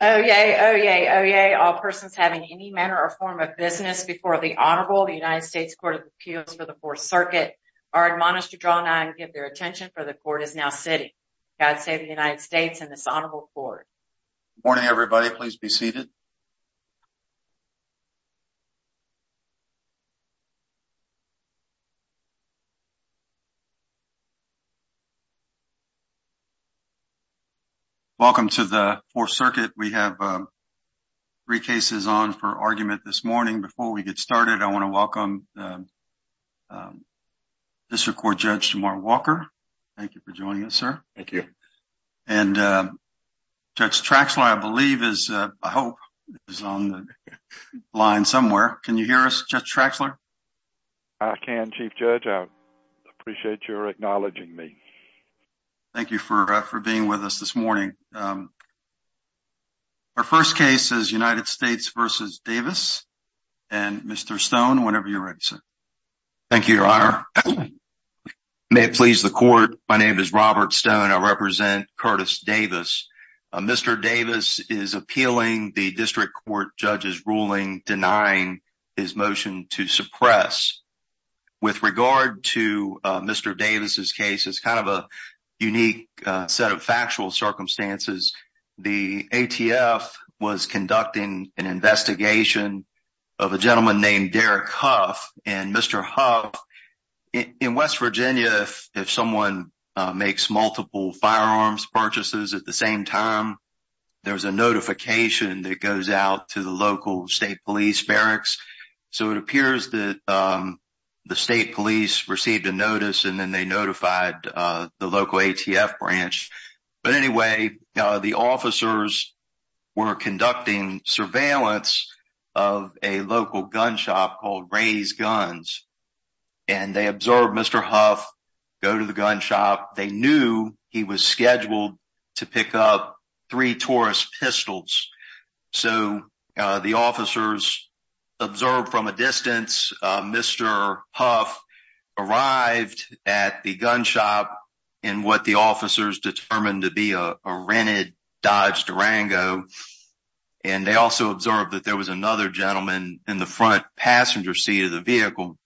Oyez, oyez, oyez, all persons having any manner or form of business before the Honorable United States Court of Appeals for the Fourth Circuit are admonished to draw nigh and give their attention, for the Court is now sitting. God save the United States and this Honorable Court. Good morning, everybody. Please be seated. Welcome to the Fourth Circuit. We have three cases on for argument this morning. Before we get started, I want to welcome District Court Judge Mark Walker. Thank you for joining us, sir. Thank you. And Judge Traxler, I believe, is, I hope, is on the line somewhere. Can you hear us, Judge Traxler? I can, Chief Judge. I appreciate your acknowledging me. Thank you for being with us this morning. Our first case is United States v. Davis. And, Mr. Stone, whenever you're ready, sir. Thank you, Your Honor. May it please the Court, my name is Robert Stone. I represent Curtis Davis. Mr. Davis is appealing the District Court Judge's ruling, denying his motion to suppress. With regard to Mr. Davis's case, it's kind of a unique set of factual circumstances. The ATF was conducting an investigation of a gentleman named Derek Huff. And Mr. Huff, in West Virginia, if someone makes multiple firearms purchases at the same time, there's a notification that goes out to the local state police barracks. So it appears that the state police received a notice and then they notified the local ATF branch. But anyway, the officers were conducting surveillance of a local gun shop called Ray's Guns. And they observed Mr. Huff go to the gun shop. They knew he was scheduled to pick up three Taurus pistols. So the officers observed from a distance Mr. Huff arrived at the gun shop in what the officers determined to be a rented Dodge Durango. And they also observed that there was another gentleman in the front passenger seat of the vehicle.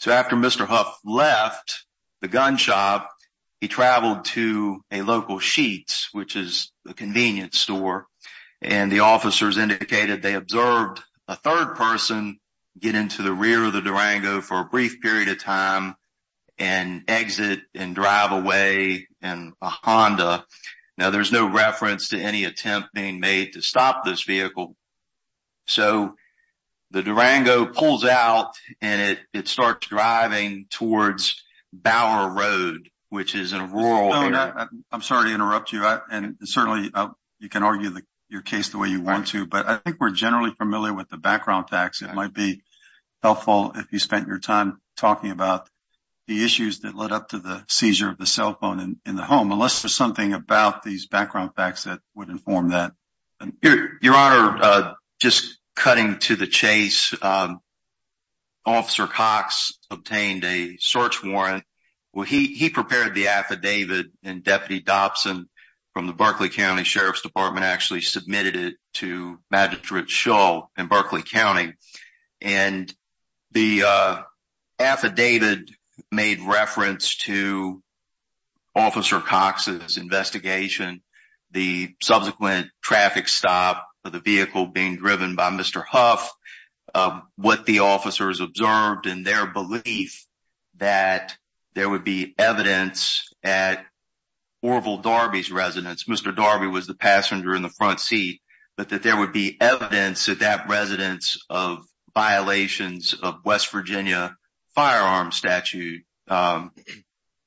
So after Mr. Huff left the gun shop, he traveled to a local Sheetz, which is a convenience store. And the officers indicated they observed a third person get into the rear of the Durango for a brief period of time and exit and drive away in a Honda. Now, there's no reference to any attempt being made to stop this vehicle. So the Durango pulls out and it starts driving towards Bower Road, which is in a rural area. I'm sorry to interrupt you. And certainly you can argue your case the way you want to. But I think we're generally familiar with the background facts. It might be helpful if you spent your time talking about the issues that led up to the seizure of the cell phone in the home. Unless there's something about these background facts that would inform that. Your Honor, just cutting to the chase, Officer Cox obtained a search warrant. He prepared the affidavit and Deputy Dobson from the Berkeley County Sheriff's Department actually submitted it to Magistrate Shull in Berkeley County. And the affidavit made reference to Officer Cox's investigation, the subsequent traffic stop of the vehicle being driven by Mr. Huff, what the officers observed and their belief that there would be evidence at Orville Darby's residence. Mr. Darby was the passenger in the front seat, but that there would be evidence that that residence of violations of West Virginia firearms statute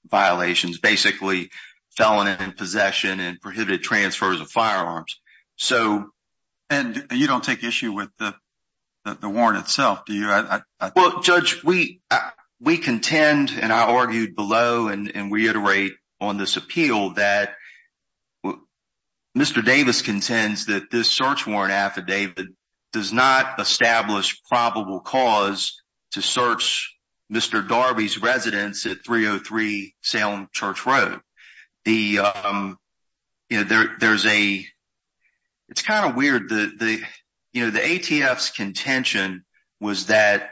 violations, basically felon in possession and prohibited transfers of firearms. And you don't take issue with the warrant itself, do you? Well, Judge, we contend and I argued below and reiterate on this appeal that Mr. Davis contends that this search warrant affidavit does not establish probable cause to search Mr. Darby's residence at 303 Salem Church Road. You know, there's a it's kind of weird that the, you know, the ATF's contention was that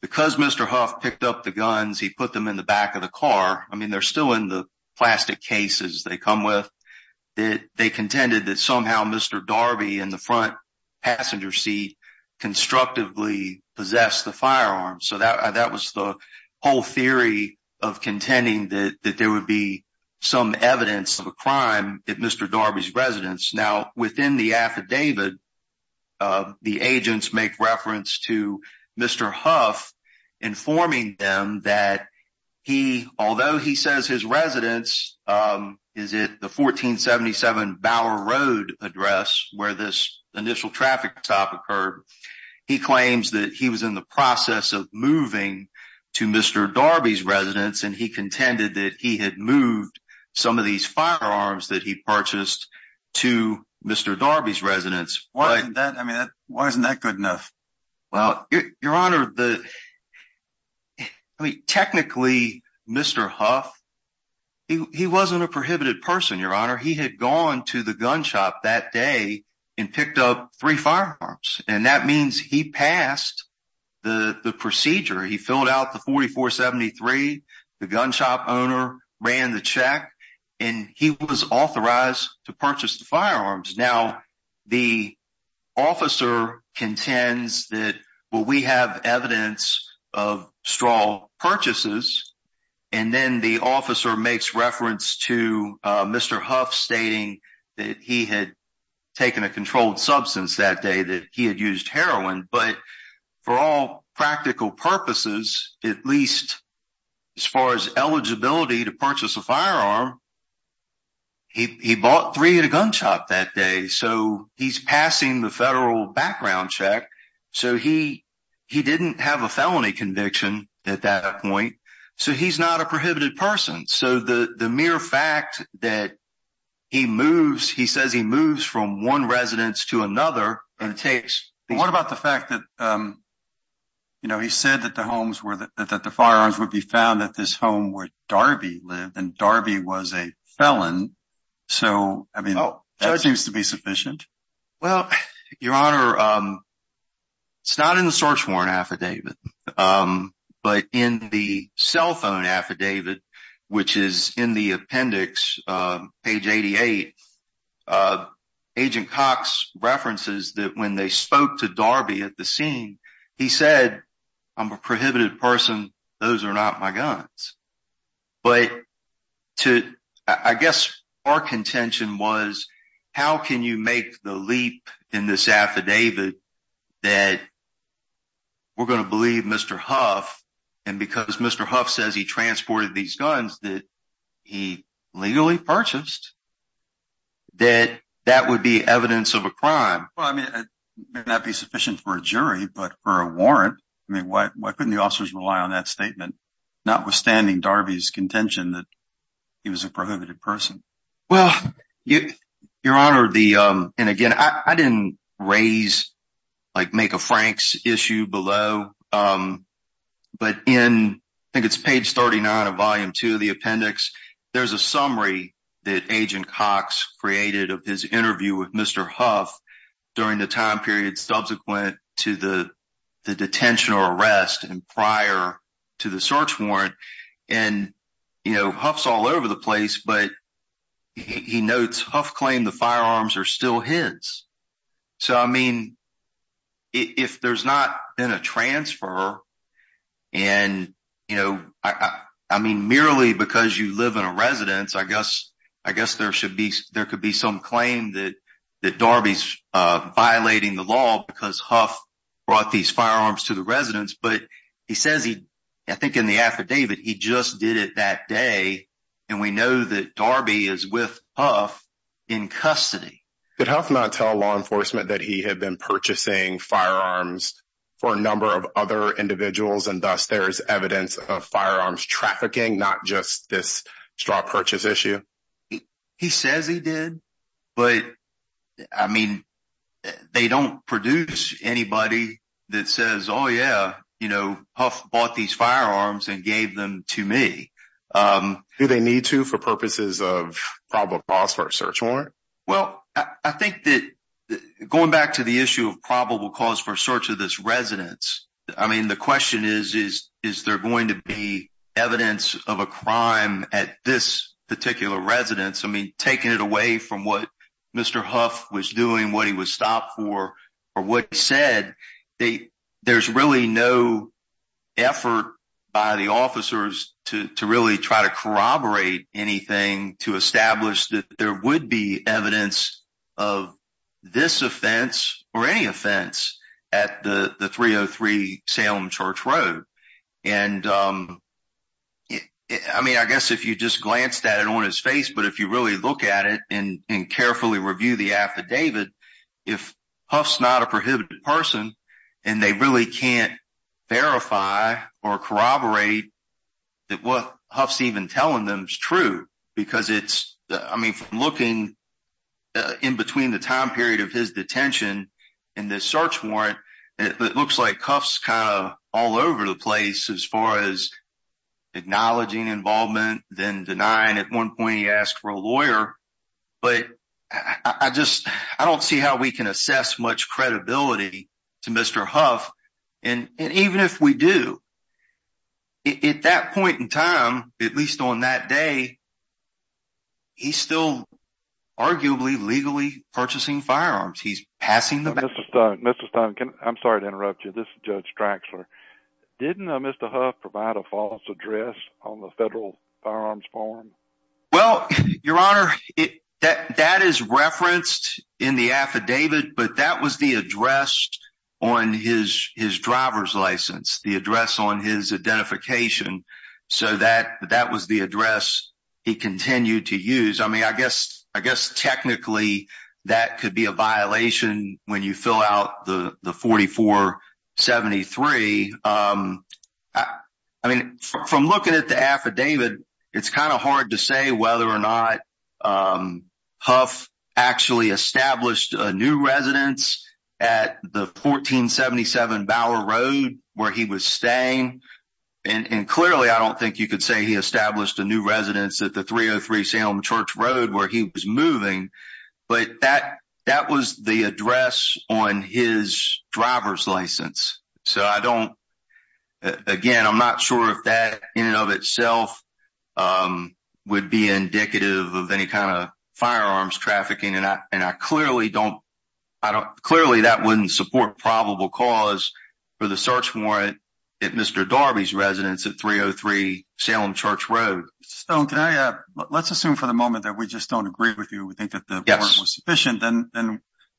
because Mr. Huff picked up the guns, he put them in the back of the car. I mean, they're still in the plastic cases they come with that. They contended that somehow Mr. Darby in the front passenger seat constructively possessed the firearm. So that was the whole theory of contending that there would be some evidence of a crime at Mr. Darby's residence. Now, within the affidavit, the agents make reference to Mr. Huff informing them that he, although he says his residence, is it the 1477 Bower Road address where this initial traffic stop occurred? He claims that he was in the process of moving to Mr. Darby's residence, and he contended that he had moved some of these firearms that he purchased to Mr. Darby's residence. Why isn't that good enough? Well, Your Honor, technically, Mr. Huff, he wasn't a prohibited person, Your Honor. He had gone to the gun shop that day and picked up three firearms, and that means he passed the procedure. He filled out the 4473, the gun shop owner ran the check, and he was authorized to purchase the firearms. Now, the officer contends that, well, we have evidence of straw purchases, and then the officer makes reference to Mr. Huff stating that he had taken a controlled substance that day, that he had used heroin. But for all practical purposes, at least as far as eligibility to purchase a firearm, he bought three at a gun shop that day, so he's passing the federal background check. So he didn't have a felony conviction at that point, so he's not a prohibited person. So the mere fact that he moves, he says he moves from one residence to another and takes… What about the fact that, you know, he said that the firearms would be found at this home where Darby lived, and Darby was a felon, so, I mean, that seems to be sufficient? Well, Your Honor, it's not in the search warrant affidavit, but in the cell phone affidavit, which is in the appendix, page 88, Agent Cox references that when they spoke to Darby at the scene, he said, I'm a prohibited person, those are not my guns. But I guess our contention was, how can you make the leap in this affidavit that we're going to believe Mr. Huff, and because Mr. Huff says he transported these guns that he legally purchased, that that would be evidence of a crime? Well, I mean, it may not be sufficient for a jury, but for a warrant, I mean, why couldn't the officers rely on that statement, notwithstanding Darby's contention that he was a prohibited person? Well, Your Honor, and again, I didn't raise, like, make a Franks issue below, but in, I think it's page 39 of volume 2 of the appendix, there's a summary that Agent Cox created of his interview with Mr. Huff during the time period subsequent to the detention or arrest and prior to the search warrant. And, you know, Huff's all over the place, but he notes Huff claimed the firearms are still his. So, I mean, if there's not been a transfer, and, you know, I mean, merely because you live in a residence, I guess there could be some claim that Darby's violating the law because Huff brought these firearms to the residence. But he says he, I think in the affidavit, he just did it that day, and we know that Darby is with Huff in custody. Did Huff not tell law enforcement that he had been purchasing firearms for a number of other individuals, and thus there is evidence of firearms trafficking, not just this straw purchase issue? He says he did, but, I mean, they don't produce anybody that says, oh, yeah, you know, Huff bought these firearms and gave them to me. Do they need to for purposes of probable cause for a search warrant? Well, I think that going back to the issue of probable cause for search of this residence, I mean, the question is, is there going to be evidence of a crime at this particular residence? I mean, taking it away from what Mr. Huff was doing, what he was stopped for, or what he said, there's really no effort by the officers to really try to corroborate anything to establish that there would be evidence of this offense or any offense at the 303 Salem Church Road. And, I mean, I guess if you just glanced at it on his face, but if you really look at it and carefully review the affidavit, if Huff's not a prohibited person, and they really can't verify or corroborate that what Huff's even telling them is true, because it's, I mean, from looking in between the time period of his detention and the search warrant, it looks like Huff's kind of all over the place as far as acknowledging involvement, then denying at one point he asked for a lawyer, but I just, I don't see how we can assess much credibility to Mr. Huff. And even if we do, at that point in time, at least on that day, he's still arguably legally purchasing firearms. Mr. Stone, Mr. Stone, I'm sorry to interrupt you. This is Judge Draxler. Didn't Mr. Huff provide a false address on the federal firearms form? Well, Your Honor, that is referenced in the affidavit, but that was the address on his driver's license, the address on his identification. So that was the address he continued to use. I mean, I guess technically that could be a violation when you fill out the 4473. I mean, from looking at the affidavit, it's kind of hard to say whether or not Huff actually established a new residence at the 1477 Bower Road where he was staying. And clearly, I don't think you could say he established a new residence at the 303 Salem Church Road where he was moving, but that was the address on his driver's license. So I don't – again, I'm not sure if that in and of itself would be indicative of any kind of firearms trafficking, and I clearly don't – clearly that wouldn't support probable cause for the search warrant at Mr. Darby's residence at 303 Salem Church Road. Stone, can I – let's assume for the moment that we just don't agree with you, we think that the warrant was sufficient, then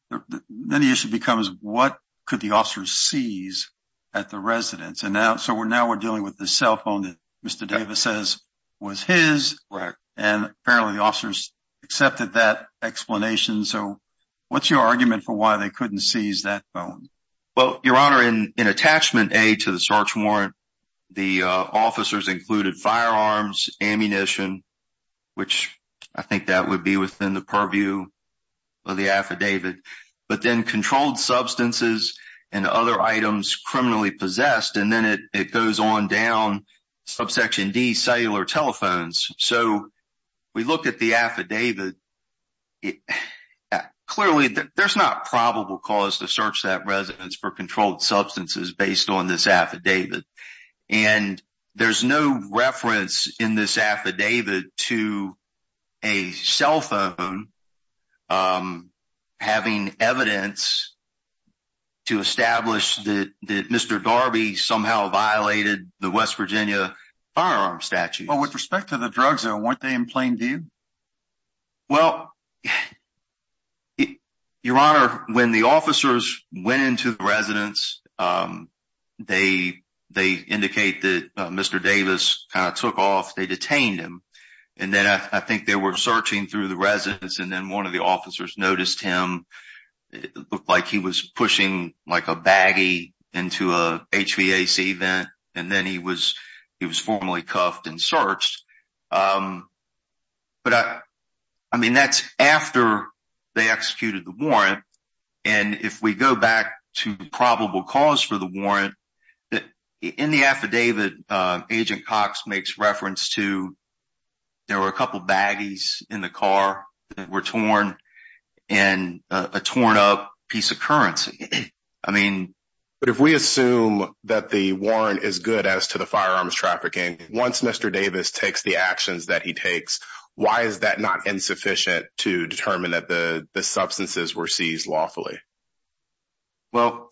the issue becomes what could the officers seize at the residence? So now we're dealing with the cell phone that Mr. Davis says was his, and apparently the officers accepted that explanation. So what's your argument for why they couldn't seize that phone? Well, Your Honor, in attachment A to the search warrant, the officers included firearms, ammunition, which I think that would be within the purview of the affidavit, but then controlled substances and other items criminally possessed, and then it goes on down subsection D, cellular telephones. So we look at the affidavit. Clearly, there's not probable cause to search that residence for controlled substances based on this affidavit, and there's no reference in this affidavit to a cell phone having evidence to establish that Mr. Darby somehow violated the West Virginia firearms statute. But with respect to the drug zone, weren't they in plain view? Well, Your Honor, when the officers went into the residence, they indicate that Mr. Davis took off, they detained him, and then I think they were searching through the residence, and then one of the officers noticed him. It looked like he was pushing a baggie into a HVAC vent, and then he was formally cuffed and searched. But, I mean, that's after they executed the warrant, and if we go back to probable cause for the warrant, in the affidavit, Agent Cox makes reference to there were a couple of baggies in the car that were torn and a torn up piece of currency. But if we assume that the warrant is good as to the firearms trafficking, once Mr. Davis takes the actions that he takes, why is that not insufficient to determine that the substances were seized lawfully? Well,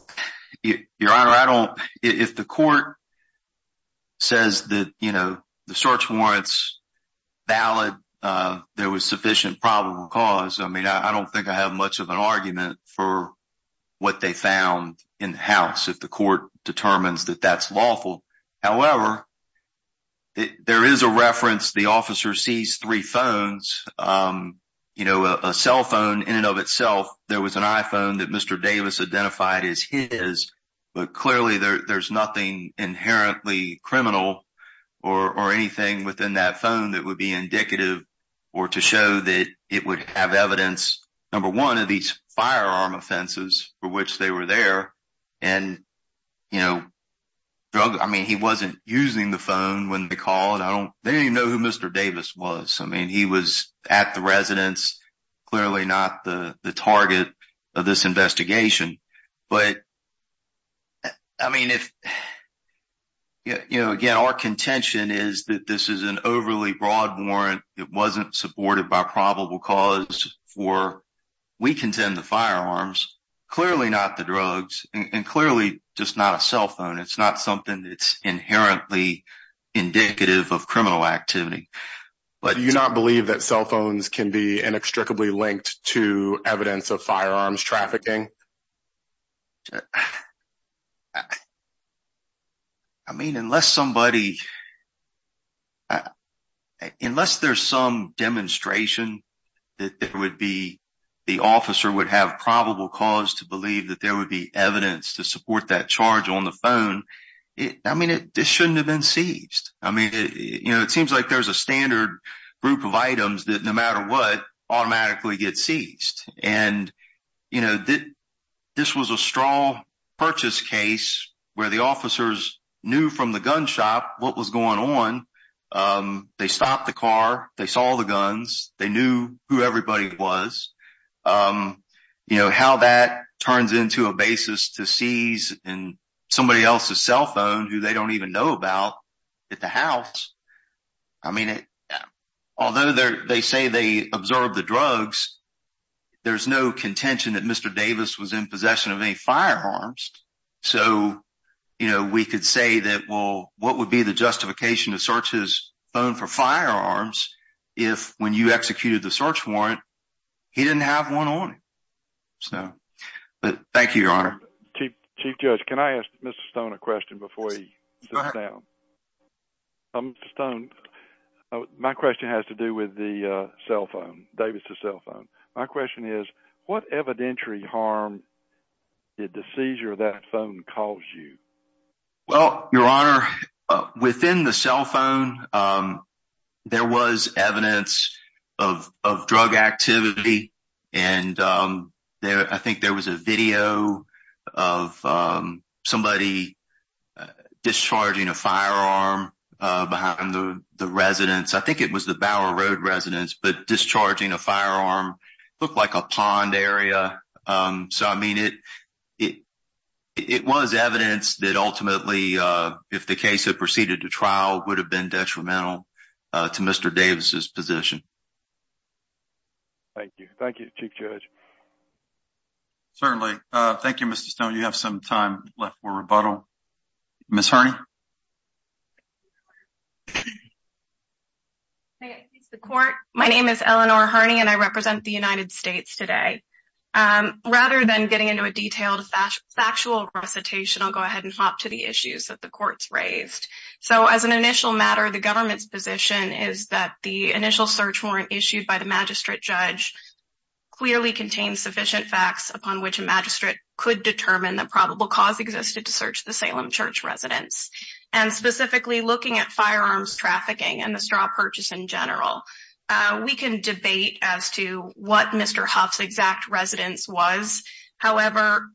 Your Honor, if the court says that the search warrant's valid, there was sufficient probable cause, I mean, I don't think I have much of an argument for what they found in the house if the court determines that that's lawful. However, there is a reference, the officer sees three phones, you know, a cell phone in and of itself, there was an iPhone that Mr. Davis identified as his, but clearly there's nothing inherently criminal or anything within that phone that would be indicative or to show that it would have evidence, number one, of these firearm offenses for which they were there. And, you know, drug, I mean, he wasn't using the phone when they called, I don't, they didn't even know who Mr. Davis was, I mean, he was at the residence, clearly not the target of this investigation. But, I mean, if, you know, again, our contention is that this is an overly broad warrant, it wasn't supported by probable cause for, we contend the firearms, clearly not the drugs, and clearly just not a cell phone, it's not something that's inherently indicative of criminal activity. But you do not believe that cell phones can be inextricably linked to evidence of firearms trafficking. I mean, unless somebody, unless there's some demonstration that there would be, the officer would have probable cause to believe that there would be evidence to support that charge on the phone, I mean, this shouldn't have been seized. I mean, you know, it seems like there's a standard group of items that, no matter what, automatically get seized. And, you know, this was a straw purchase case where the officers knew from the gun shop what was going on, they stopped the car, they saw the guns, they knew who everybody was. You know, how that turns into a basis to seize somebody else's cell phone who they don't even know about at the house, I mean, although they say they observed the drugs, there's no contention that Mr. Davis was in possession of any firearms. So, you know, we could say that, well, what would be the justification to search his phone for firearms if, when you executed the search warrant, he didn't have one on him? So, but thank you, Your Honor. Chief Judge, can I ask Mr. Stone a question before he sits down? Mr. Stone, my question has to do with the cell phone, Davis' cell phone. My question is, what evidentiary harm did the seizure of that phone cause you? Well, Your Honor, within the cell phone, there was evidence of drug activity, and I think there was a video of somebody discharging a firearm behind the residence. I think it was the Bower Road residence, but discharging a firearm looked like a pond area. So, I mean, it was evidence that ultimately, if the case had proceeded to trial, would have been detrimental to Mr. Davis' position. Thank you. Thank you, Chief Judge. Certainly. Thank you, Mr. Stone. You have some time left for rebuttal. Ms. Harney? My name is Eleanor Harney, and I represent the United States today. Rather than getting into a detailed factual recitation, I'll go ahead and hop to the issues that the court's raised. So, as an initial matter, the government's position is that the initial search warrant issued by the magistrate judge clearly contains sufficient facts upon which a magistrate could determine the probable cause existed to search the Salem Church residence. And specifically, looking at firearms trafficking and the straw purchase in general, we can debate as to what Mr. Huff's exact residence was. However,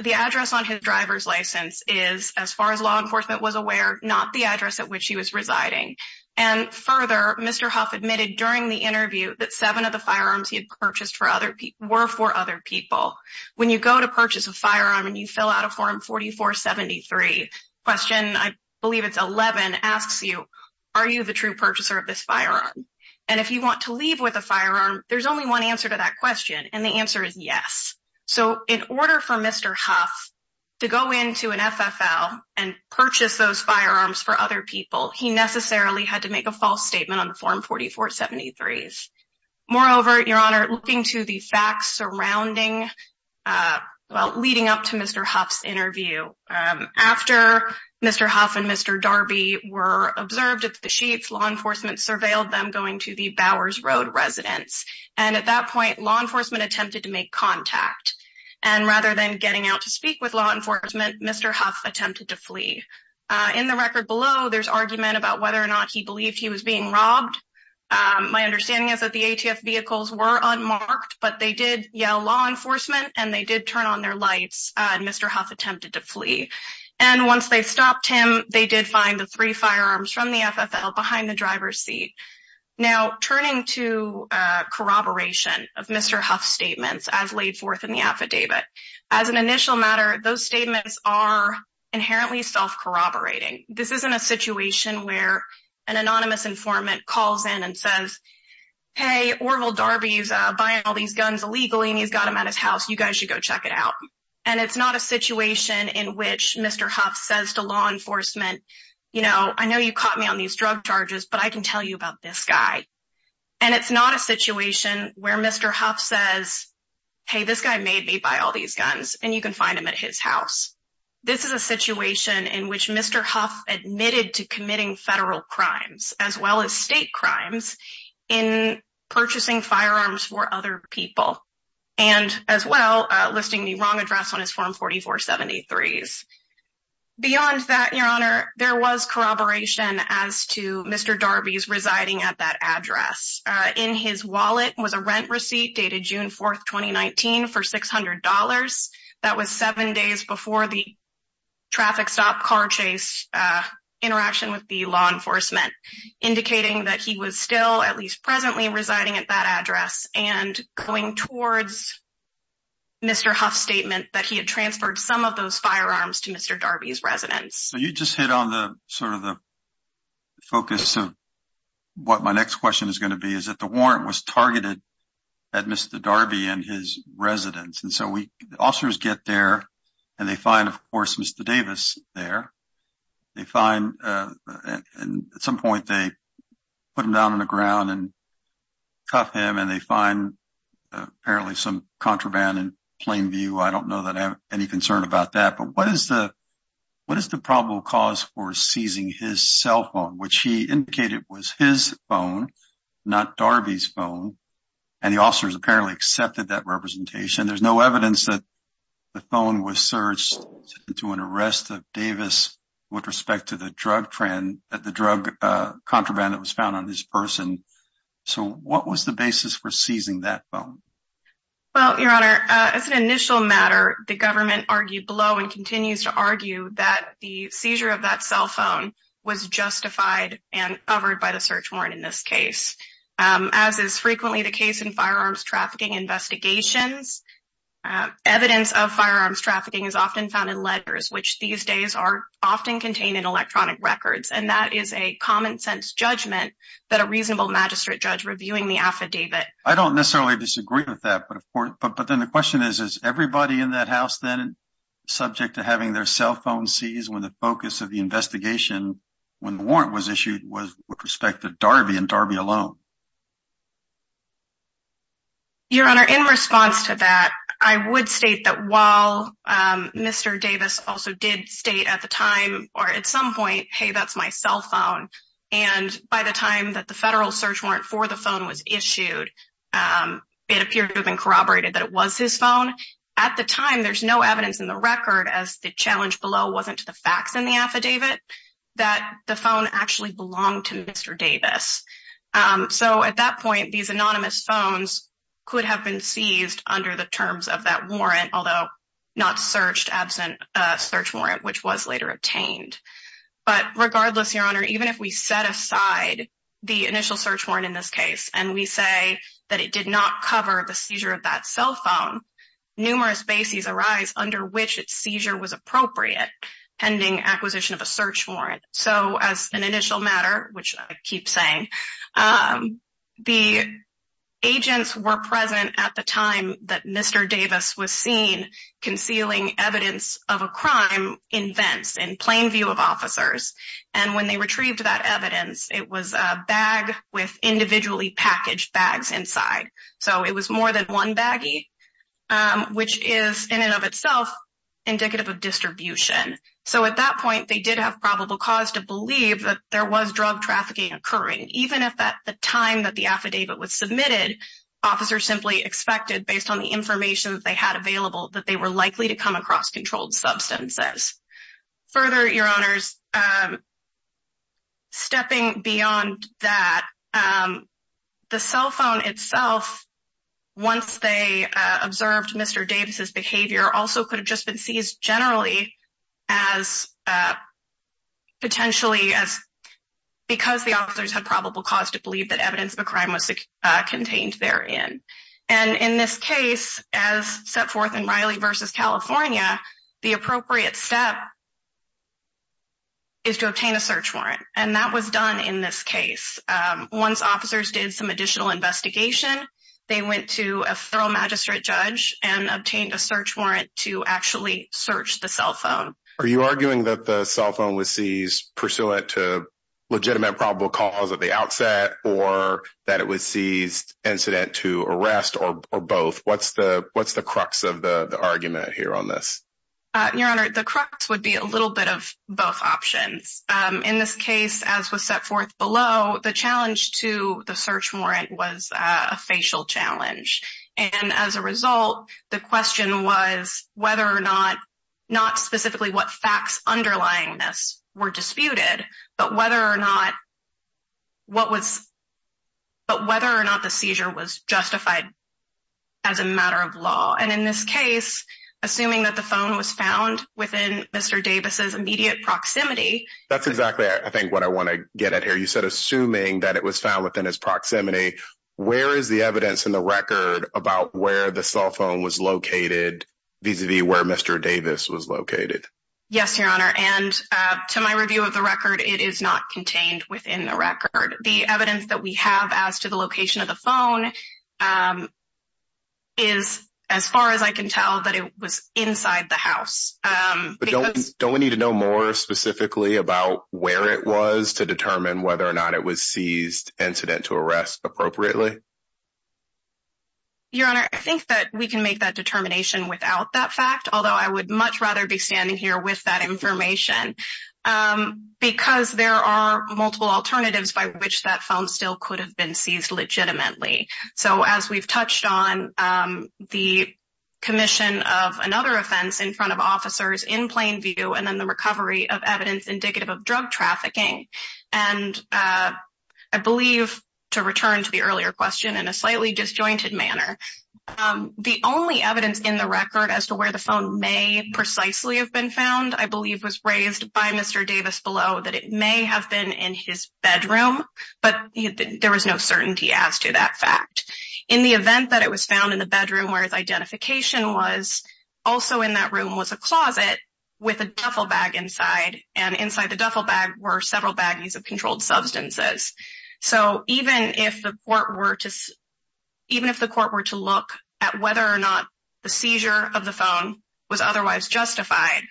the address on his driver's license is, as far as law enforcement was aware, not the address at which he was residing. And further, Mr. Huff admitted during the interview that seven of the firearms he had purchased were for other people. When you go to purchase a firearm and you fill out a form 4473, question, I believe it's 11, asks you, are you the true purchaser of this firearm? And if you want to leave with a firearm, there's only one answer to that question, and the answer is yes. So, in order for Mr. Huff to go into an FFL and purchase those firearms for other people, he necessarily had to make a false statement on the form 4473. Moreover, Your Honor, looking to the facts surrounding, well, leading up to Mr. Huff's interview, after Mr. Huff and Mr. Darby were observed at the sheets, law enforcement surveilled them going to the Bowers Road residence. And at that point, law enforcement attempted to make contact. And rather than getting out to speak with law enforcement, Mr. Huff attempted to flee. In the record below, there's argument about whether or not he believed he was being robbed. My understanding is that the ATF vehicles were unmarked, but they did yell, law enforcement, and they did turn on their lights, and Mr. Huff attempted to flee. And once they stopped him, they did find the three firearms from the FFL behind the driver's seat. Now, turning to corroboration of Mr. Huff's statements as laid forth in the affidavit, as an initial matter, those statements are inherently self-corroborating. This isn't a situation where an anonymous informant calls in and says, hey, Orville Darby's buying all these guns illegally, and he's got them at his house. You guys should go check it out. And it's not a situation in which Mr. Huff says to law enforcement, you know, I know you caught me on these drug charges, but I can tell you about this guy. And it's not a situation where Mr. Huff says, hey, this guy made me buy all these guns, and you can find them at his house. This is a situation in which Mr. Huff admitted to committing federal crimes, as well as state crimes, in purchasing firearms for other people, and as well, listing the wrong address on his Form 4473s. Beyond that, Your Honor, there was corroboration as to Mr. Darby's residing at that address. In his wallet was a rent receipt dated June 4, 2019, for $600. That was seven days before the traffic stop car chase interaction with the law enforcement, indicating that he was still, at least presently, residing at that address. And going towards Mr. Huff's statement that he had transferred some of those firearms to Mr. Darby's residence. So you just hit on sort of the focus of what my next question is going to be, is that the warrant was targeted at Mr. Darby and his residence. And so officers get there, and they find, of course, Mr. Davis there. They find – at some point, they put him down on the ground and cuff him, and they find apparently some contraband in plain view. I don't know that I have any concern about that. But what is the probable cause for seizing his cell phone, which he indicated was his phone, not Darby's phone? And the officers apparently accepted that representation. There's no evidence that the phone was searched to an arrest of Davis with respect to the drug contraband that was found on his person. So what was the basis for seizing that phone? Well, Your Honor, as an initial matter, the government argued below and continues to argue that the seizure of that cell phone was justified and covered by the search warrant in this case. As is frequently the case in firearms trafficking investigations, evidence of firearms trafficking is often found in letters, which these days are often contained in electronic records. And that is a common-sense judgment that a reasonable magistrate judge reviewing the affidavit… I agree with that. But then the question is, is everybody in that house then subject to having their cell phone seized when the focus of the investigation, when the warrant was issued, was with respect to Darby and Darby alone? Your Honor, in response to that, I would state that while Mr. Davis also did state at the time or at some point, hey, that's my cell phone. And by the time that the federal search warrant for the phone was issued, it appeared to have been corroborated that it was his phone. At the time, there's no evidence in the record, as the challenge below wasn't to the facts in the affidavit, that the phone actually belonged to Mr. Davis. So at that point, these anonymous phones could have been seized under the terms of that warrant, although not searched absent a search warrant, which was later obtained. But regardless, Your Honor, even if we set aside the initial search warrant in this case and we say that it did not cover the seizure of that cell phone, numerous bases arise under which its seizure was appropriate pending acquisition of a search warrant. So as an initial matter, which I keep saying, the agents were present at the time that Mr. Davis was seen concealing evidence of a crime in vents in plain view of officers. And when they retrieved that evidence, it was a bag with individually packaged bags inside. So it was more than one baggie, which is in and of itself indicative of distribution. So at that point, they did have probable cause to believe that there was drug trafficking occurring. Even if at the time that the affidavit was submitted, officers simply expected, based on the information that they had available, that they were likely to come across controlled substances. Further, Your Honors, stepping beyond that, the cell phone itself, once they observed Mr. Davis's behavior, also could have just been seized generally as potentially as because the officers had probable cause to believe that evidence of a crime was contained therein. And in this case, as set forth in Riley v. California, the appropriate step is to obtain a search warrant. And that was done in this case. Once officers did some additional investigation, they went to a federal magistrate judge and obtained a search warrant to actually search the cell phone. Are you arguing that the cell phone was seized pursuant to legitimate probable cause at the outset, or that it was seized incident to arrest, or both? What's the crux of the argument here on this? Your Honor, the crux would be a little bit of both options. In this case, as was set forth below, the challenge to the search warrant was a facial challenge. And as a result, the question was whether or not, not specifically what facts underlying this were disputed, but whether or not the seizure was justified as a matter of law. And in this case, assuming that the phone was found within Mr. Davis's immediate proximity… That's exactly, I think, what I want to get at here. You said assuming that it was found within his proximity. Where is the evidence in the record about where the cell phone was located vis-a-vis where Mr. Davis was located? Yes, Your Honor. And to my review of the record, it is not contained within the record. The evidence that we have as to the location of the phone is as far as I can tell that it was inside the house. Don't we need to know more specifically about where it was to determine whether or not it was seized incident to arrest appropriately? Your Honor, I think that we can make that determination without that fact, although I would much rather be standing here with that information. Because there are multiple alternatives by which that phone still could have been seized legitimately. So, as we've touched on, the commission of another offense in front of officers in plain view, and then the recovery of evidence indicative of drug trafficking. And I believe, to return to the earlier question in a slightly disjointed manner, the only evidence in the record as to where the phone may precisely have been found, I believe, was raised by Mr. Davis below that it may have been in his bedroom. But there was no certainty as to that fact. In the event that it was found in the bedroom where his identification was, also in that room was a closet with a duffel bag inside. And inside the duffel bag were several baggies of controlled substances. So, even if the court were to look at whether or not the seizure of the phone was otherwise justified,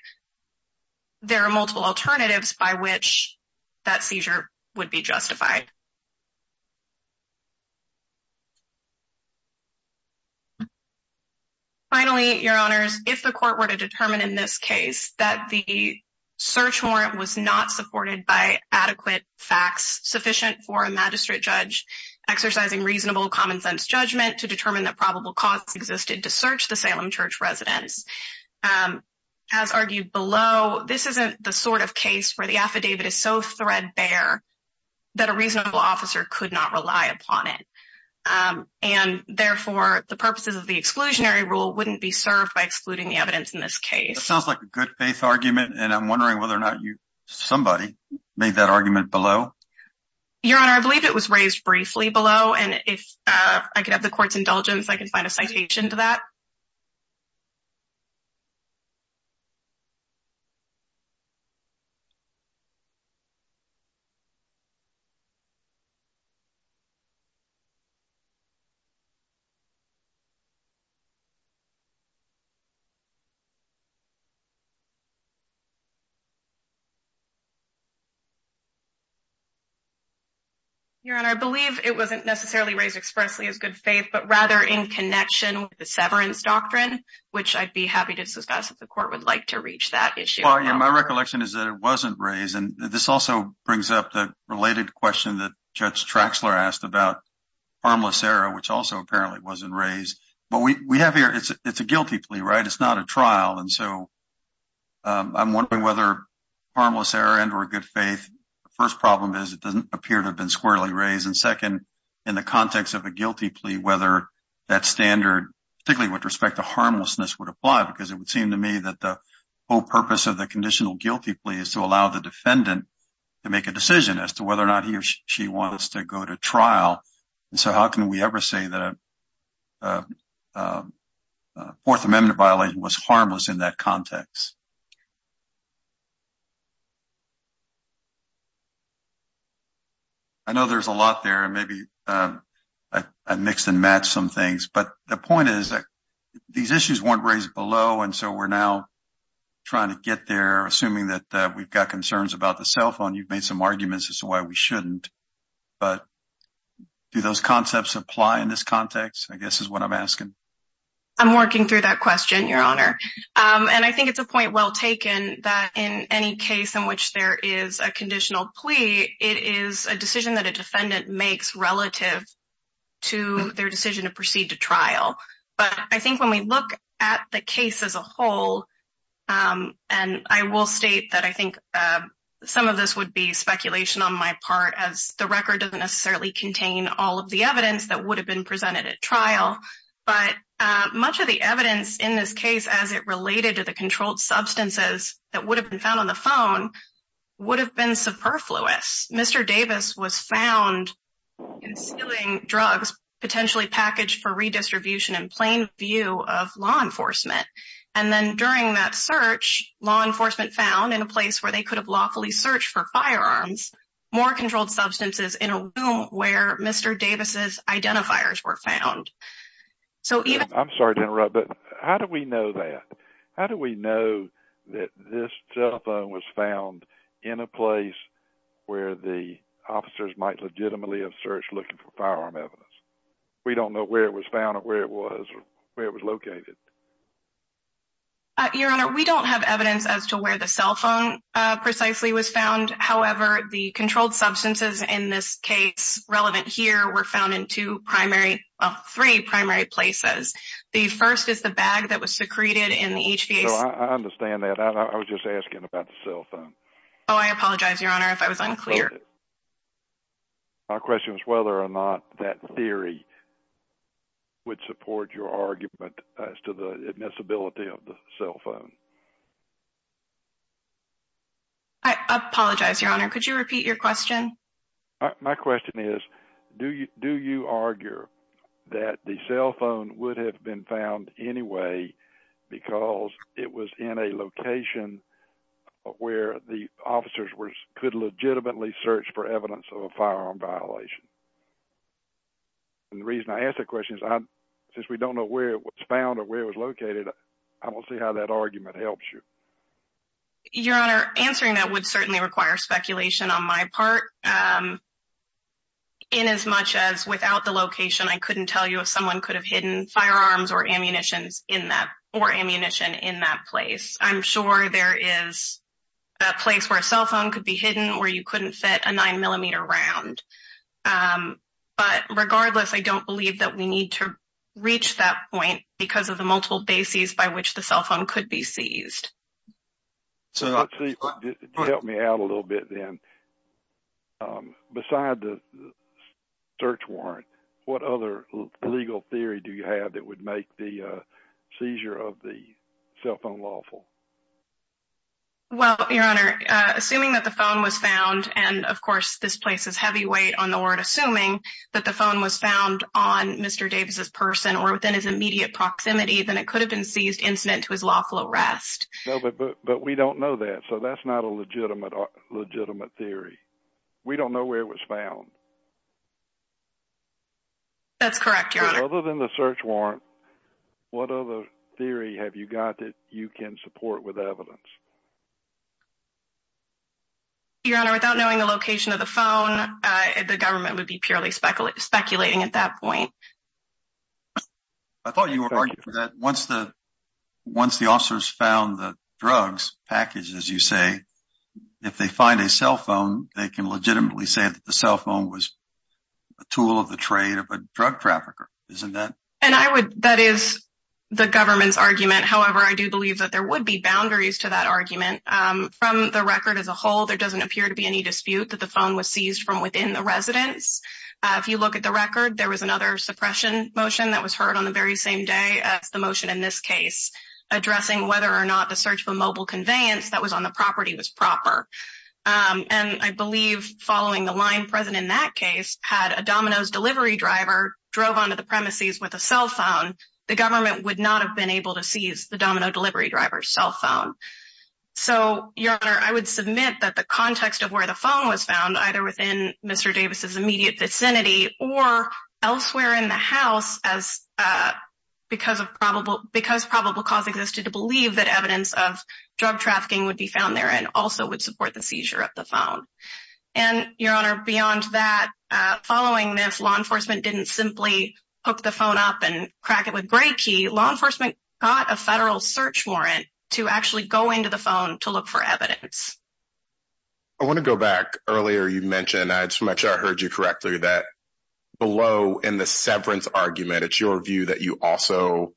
there are multiple alternatives by which that seizure would be justified. Finally, your honors, if the court were to determine in this case that the search warrant was not supported by adequate facts sufficient for a magistrate judge exercising reasonable common sense judgment to determine that probable cause existed to search the Salem church residents. As argued below, this isn't the sort of case where the affidavit is so threadbare that a reasonable officer could not rely upon it. And, therefore, the purposes of the exclusionary rule wouldn't be served by excluding the evidence in this case. That sounds like a good faith argument, and I'm wondering whether or not somebody made that argument below. Your honor, I believe it was raised briefly below, and if I could have the court's indulgence, I can find a citation to that. Thank you. Your honor, I believe it wasn't necessarily raised expressly as good faith. But, rather, in connection with the severance doctrine, which I'd be happy to discuss if the court would like to reach that issue. My recollection is that it wasn't raised. And this also brings up the related question that Judge Traxler asked about harmless error, which also apparently wasn't raised. But we have here, it's a guilty plea, right? It's not a trial. And so I'm wondering whether harmless error and or good faith, the first problem is it doesn't appear to have been squarely raised. And, second, in the context of a guilty plea, whether that standard, particularly with respect to harmlessness, would apply. Because it would seem to me that the whole purpose of the conditional guilty plea is to allow the defendant to make a decision as to whether or not he or she wants to go to trial. And so how can we ever say that a Fourth Amendment violation was harmless in that context? I know there's a lot there, and maybe I mixed and matched some things. But the point is that these issues weren't raised below. And so we're now trying to get there, assuming that we've got concerns about the cell phone. You've made some arguments as to why we shouldn't. But do those concepts apply in this context, I guess is what I'm asking. I'm working through that question, Your Honor. And I think it's a point well taken that in any case in which there is a conditional plea, it is a decision that a defendant makes relative to their decision to proceed to trial. But I think when we look at the case as a whole, and I will state that I think some of this would be speculation on my part, as the record doesn't necessarily contain all of the evidence that would have been presented at trial. But much of the evidence in this case, as it related to the controlled substances that would have been found on the phone, would have been superfluous. Mr. Davis was found stealing drugs potentially packaged for redistribution in plain view of law enforcement. And then during that search, law enforcement found in a place where they could have lawfully searched for firearms, more controlled substances in a room where Mr. Davis's identifiers were found. I'm sorry to interrupt, but how do we know that? How do we know that this cell phone was found in a place where the officers might legitimately have searched looking for firearm evidence? We don't know where it was found or where it was located. Your Honor, we don't have evidence as to where the cell phone precisely was found. However, the controlled substances in this case relevant here were found in two primary, three primary places. The first is the bag that was secreted in the HVAC. I understand that. I was just asking about the cell phone. Oh, I apologize, Your Honor, if I was unclear. My question is whether or not that theory would support your argument as to the admissibility of the cell phone. I apologize, Your Honor. Could you repeat your question? My question is, do you argue that the cell phone would have been found anyway because it was in a location where the officers could legitimately search for evidence of a firearm violation? And the reason I ask that question is since we don't know where it was found or where it was located, I want to see how that argument helps you. Your Honor, answering that would certainly require speculation on my part. In as much as without the location, I couldn't tell you if someone could have hidden firearms or ammunition in that or ammunition in that place. I'm sure there is a place where a cell phone could be hidden or you couldn't fit a nine millimeter round. But regardless, I don't believe that we need to reach that point because of the multiple bases by which the cell phone could be seized. Help me out a little bit then. Beside the search warrant, what other legal theory do you have that would make the seizure of the cell phone lawful? Well, Your Honor, assuming that the phone was found, and of course this places heavy weight on the word assuming that the phone was found on Mr. Davis's person or within his immediate proximity, then it could have been seized incident to his lawful arrest. But we don't know that, so that's not a legitimate theory. We don't know where it was found. That's correct, Your Honor. Other than the search warrant, what other theory have you got that you can support with evidence? Your Honor, without knowing the location of the phone, the government would be purely speculating at that point. I thought you were arguing that once the officers found the drugs package, as you say, if they find a cell phone, they can legitimately say that the cell phone was a tool of the trade of a drug trafficker, isn't that? That is the government's argument. However, I do believe that there would be boundaries to that argument. From the record as a whole, there doesn't appear to be any dispute that the phone was seized from within the residence. If you look at the record, there was another suppression motion that was heard on the very same day as the motion in this case, addressing whether or not the search for mobile conveyance that was on the property was proper. And I believe following the line present in that case, had a Domino's delivery driver drove onto the premises with a cell phone, the government would not have been able to seize the Domino's delivery driver's cell phone. So your honor, I would submit that the context of where the phone was found either within Mr. Davis's immediate vicinity or elsewhere in the house as because of probable because probable cause existed to believe that evidence of drug trafficking would be found there and also would support the seizure of the phone. And your honor, beyond that, following this law enforcement didn't simply hook the phone up and crack it with great key law enforcement got a federal search warrant to actually go into the phone to look for evidence. I want to go back earlier. You mentioned as much. I heard you correctly that below in the severance argument, it's your view that you also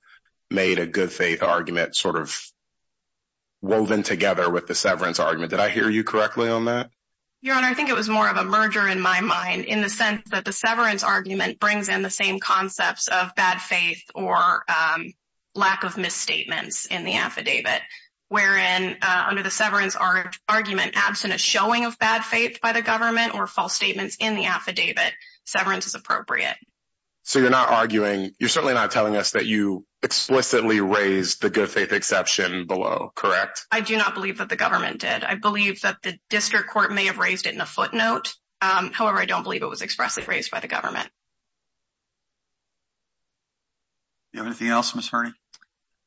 made a good faith argument sort of. Woven together with the severance argument that I hear you correctly on that. Your honor, I think it was more of a merger in my mind, in the sense that the severance argument brings in the same concepts of bad faith or lack of misstatements in the affidavit. Wherein under the severance argument, absent a showing of bad faith by the government or false statements in the affidavit severance is appropriate. So, you're not arguing, you're certainly not telling us that you explicitly raised the good faith exception below. Correct. I do not believe that the government did. I believe that the district court may have raised it in a footnote. However, I don't believe it was expressly raised by the government. Do you have anything else Ms. Hurney?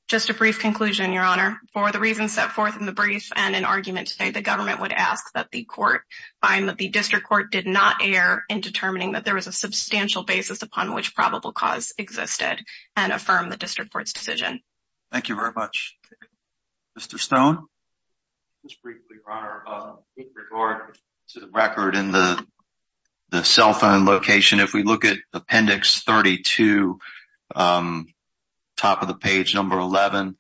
Just a brief conclusion, your honor. For the reasons set forth in the brief and in argument today, the government would ask that the court find that the district court did not err in determining that there was a substantial basis upon which probable cause existed and affirm the district court's decision. Thank you very much. Mr. Stone? Just briefly, your honor. In regard to the record in the cell phone location, if we look at appendix 32, top of the page number 11,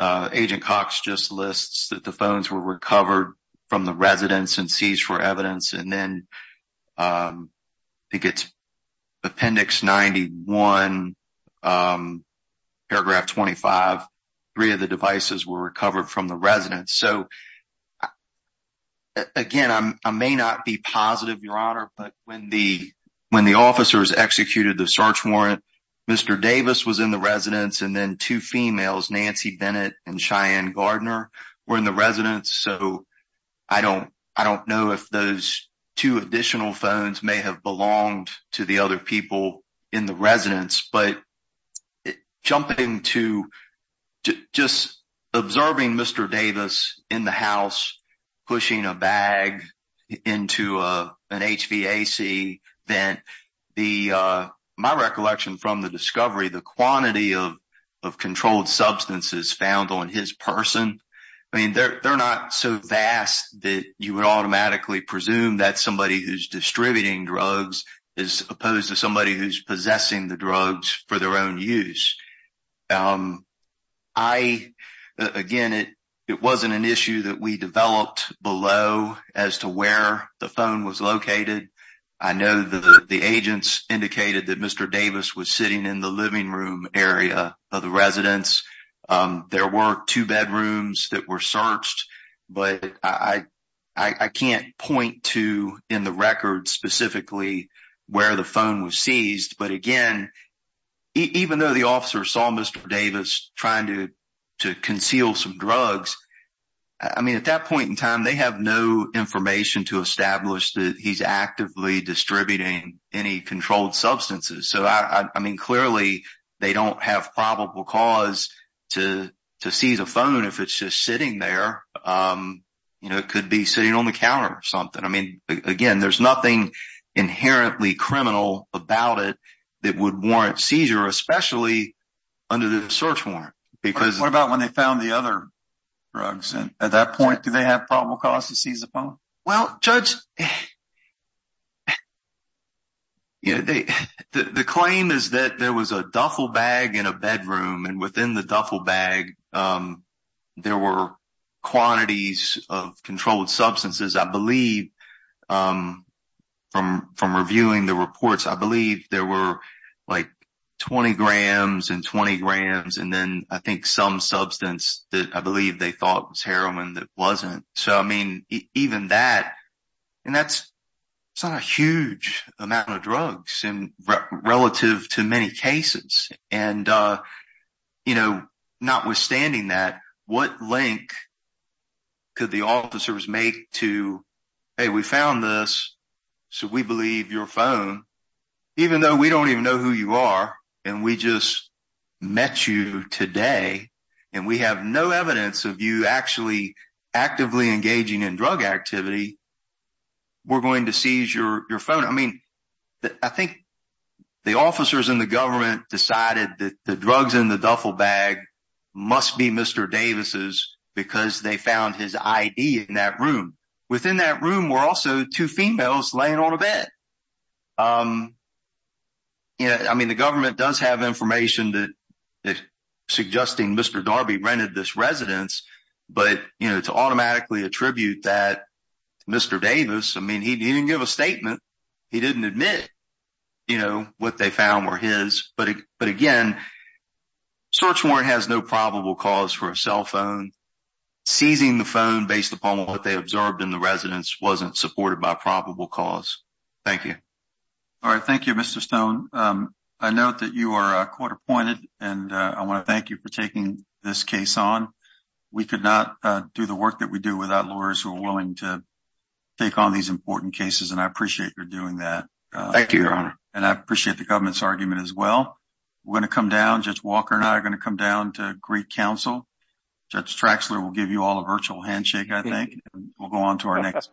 Agent Cox just lists that the phones were recovered from the residence and seized for evidence. And then, I think it's appendix 91, paragraph 25, three of the devices were recovered from the residence. So, again, I may not be positive, your honor, but when the officers executed the search warrant, Mr. Davis was in the residence and then two females, Nancy Bennett and Cheyenne Gardner, were in the residence. So, I don't know if those two additional phones may have belonged to the other people in the residence, but jumping to just observing Mr. Davis in the house, pushing a bag into an HVAC, then my recollection from the discovery, the quantity of controlled substances found on his person, I mean, they're not so vast that you would automatically presume that somebody who's distributing drugs is opposed to somebody who's possessing the drugs for their own use. I, again, it wasn't an issue that we developed below as to where the phone was located. I know that the agents indicated that Mr. Davis was sitting in the living room area of the residence. There were two bedrooms that were searched, but I can't point to in the record specifically where the phone was seized. But, again, even though the officer saw Mr. Davis trying to conceal some drugs, I mean, at that point in time, they have no information to establish that he's actively distributing any controlled substances. So, I mean, clearly, they don't have probable cause to seize a phone if it's just sitting there. It could be sitting on the counter or something. I mean, again, there's nothing inherently criminal about it that would warrant seizure, especially under the search warrant. What about when they found the other drugs? At that point, did they have probable cause to seize the phone? Well, Judge, the claim is that there was a duffel bag in a bedroom, and within the duffel bag, there were quantities of controlled substances. I believe from reviewing the reports, I believe there were, like, 20 grams and 20 grams, and then I think some substance that I believe they thought was heroin that wasn't. So, I mean, even that – and that's not a huge amount of drugs relative to many cases. And, you know, notwithstanding that, what link could the officers make to, hey, we found this, so we believe your phone, even though we don't even know who you are and we just met you today, and we have no evidence of you actually actively engaging in drug activity, we're going to seize your phone. I mean, I think the officers in the government decided that the drugs in the duffel bag must be Mr. Davis's because they found his ID in that room. Within that room were also two females laying on a bed. I mean, the government does have information suggesting Mr. Darby rented this residence, but, you know, to automatically attribute that to Mr. Davis, I mean, he didn't give a statement. He didn't admit, you know, what they found were his. But, again, search warrant has no probable cause for a cell phone. Seizing the phone based upon what they observed in the residence wasn't supported by probable cause. Thank you. All right, thank you, Mr. Stone. I note that you are a quarter pointed and I want to thank you for taking this case on. We could not do the work that we do without lawyers who are willing to take on these important cases. And I appreciate your doing that. Thank you. And I appreciate the government's argument as well. We're going to come down, Judge Walker and I are going to come down to greet counsel. Judge Traxler will give you all a virtual handshake, I think. We'll go on to our next.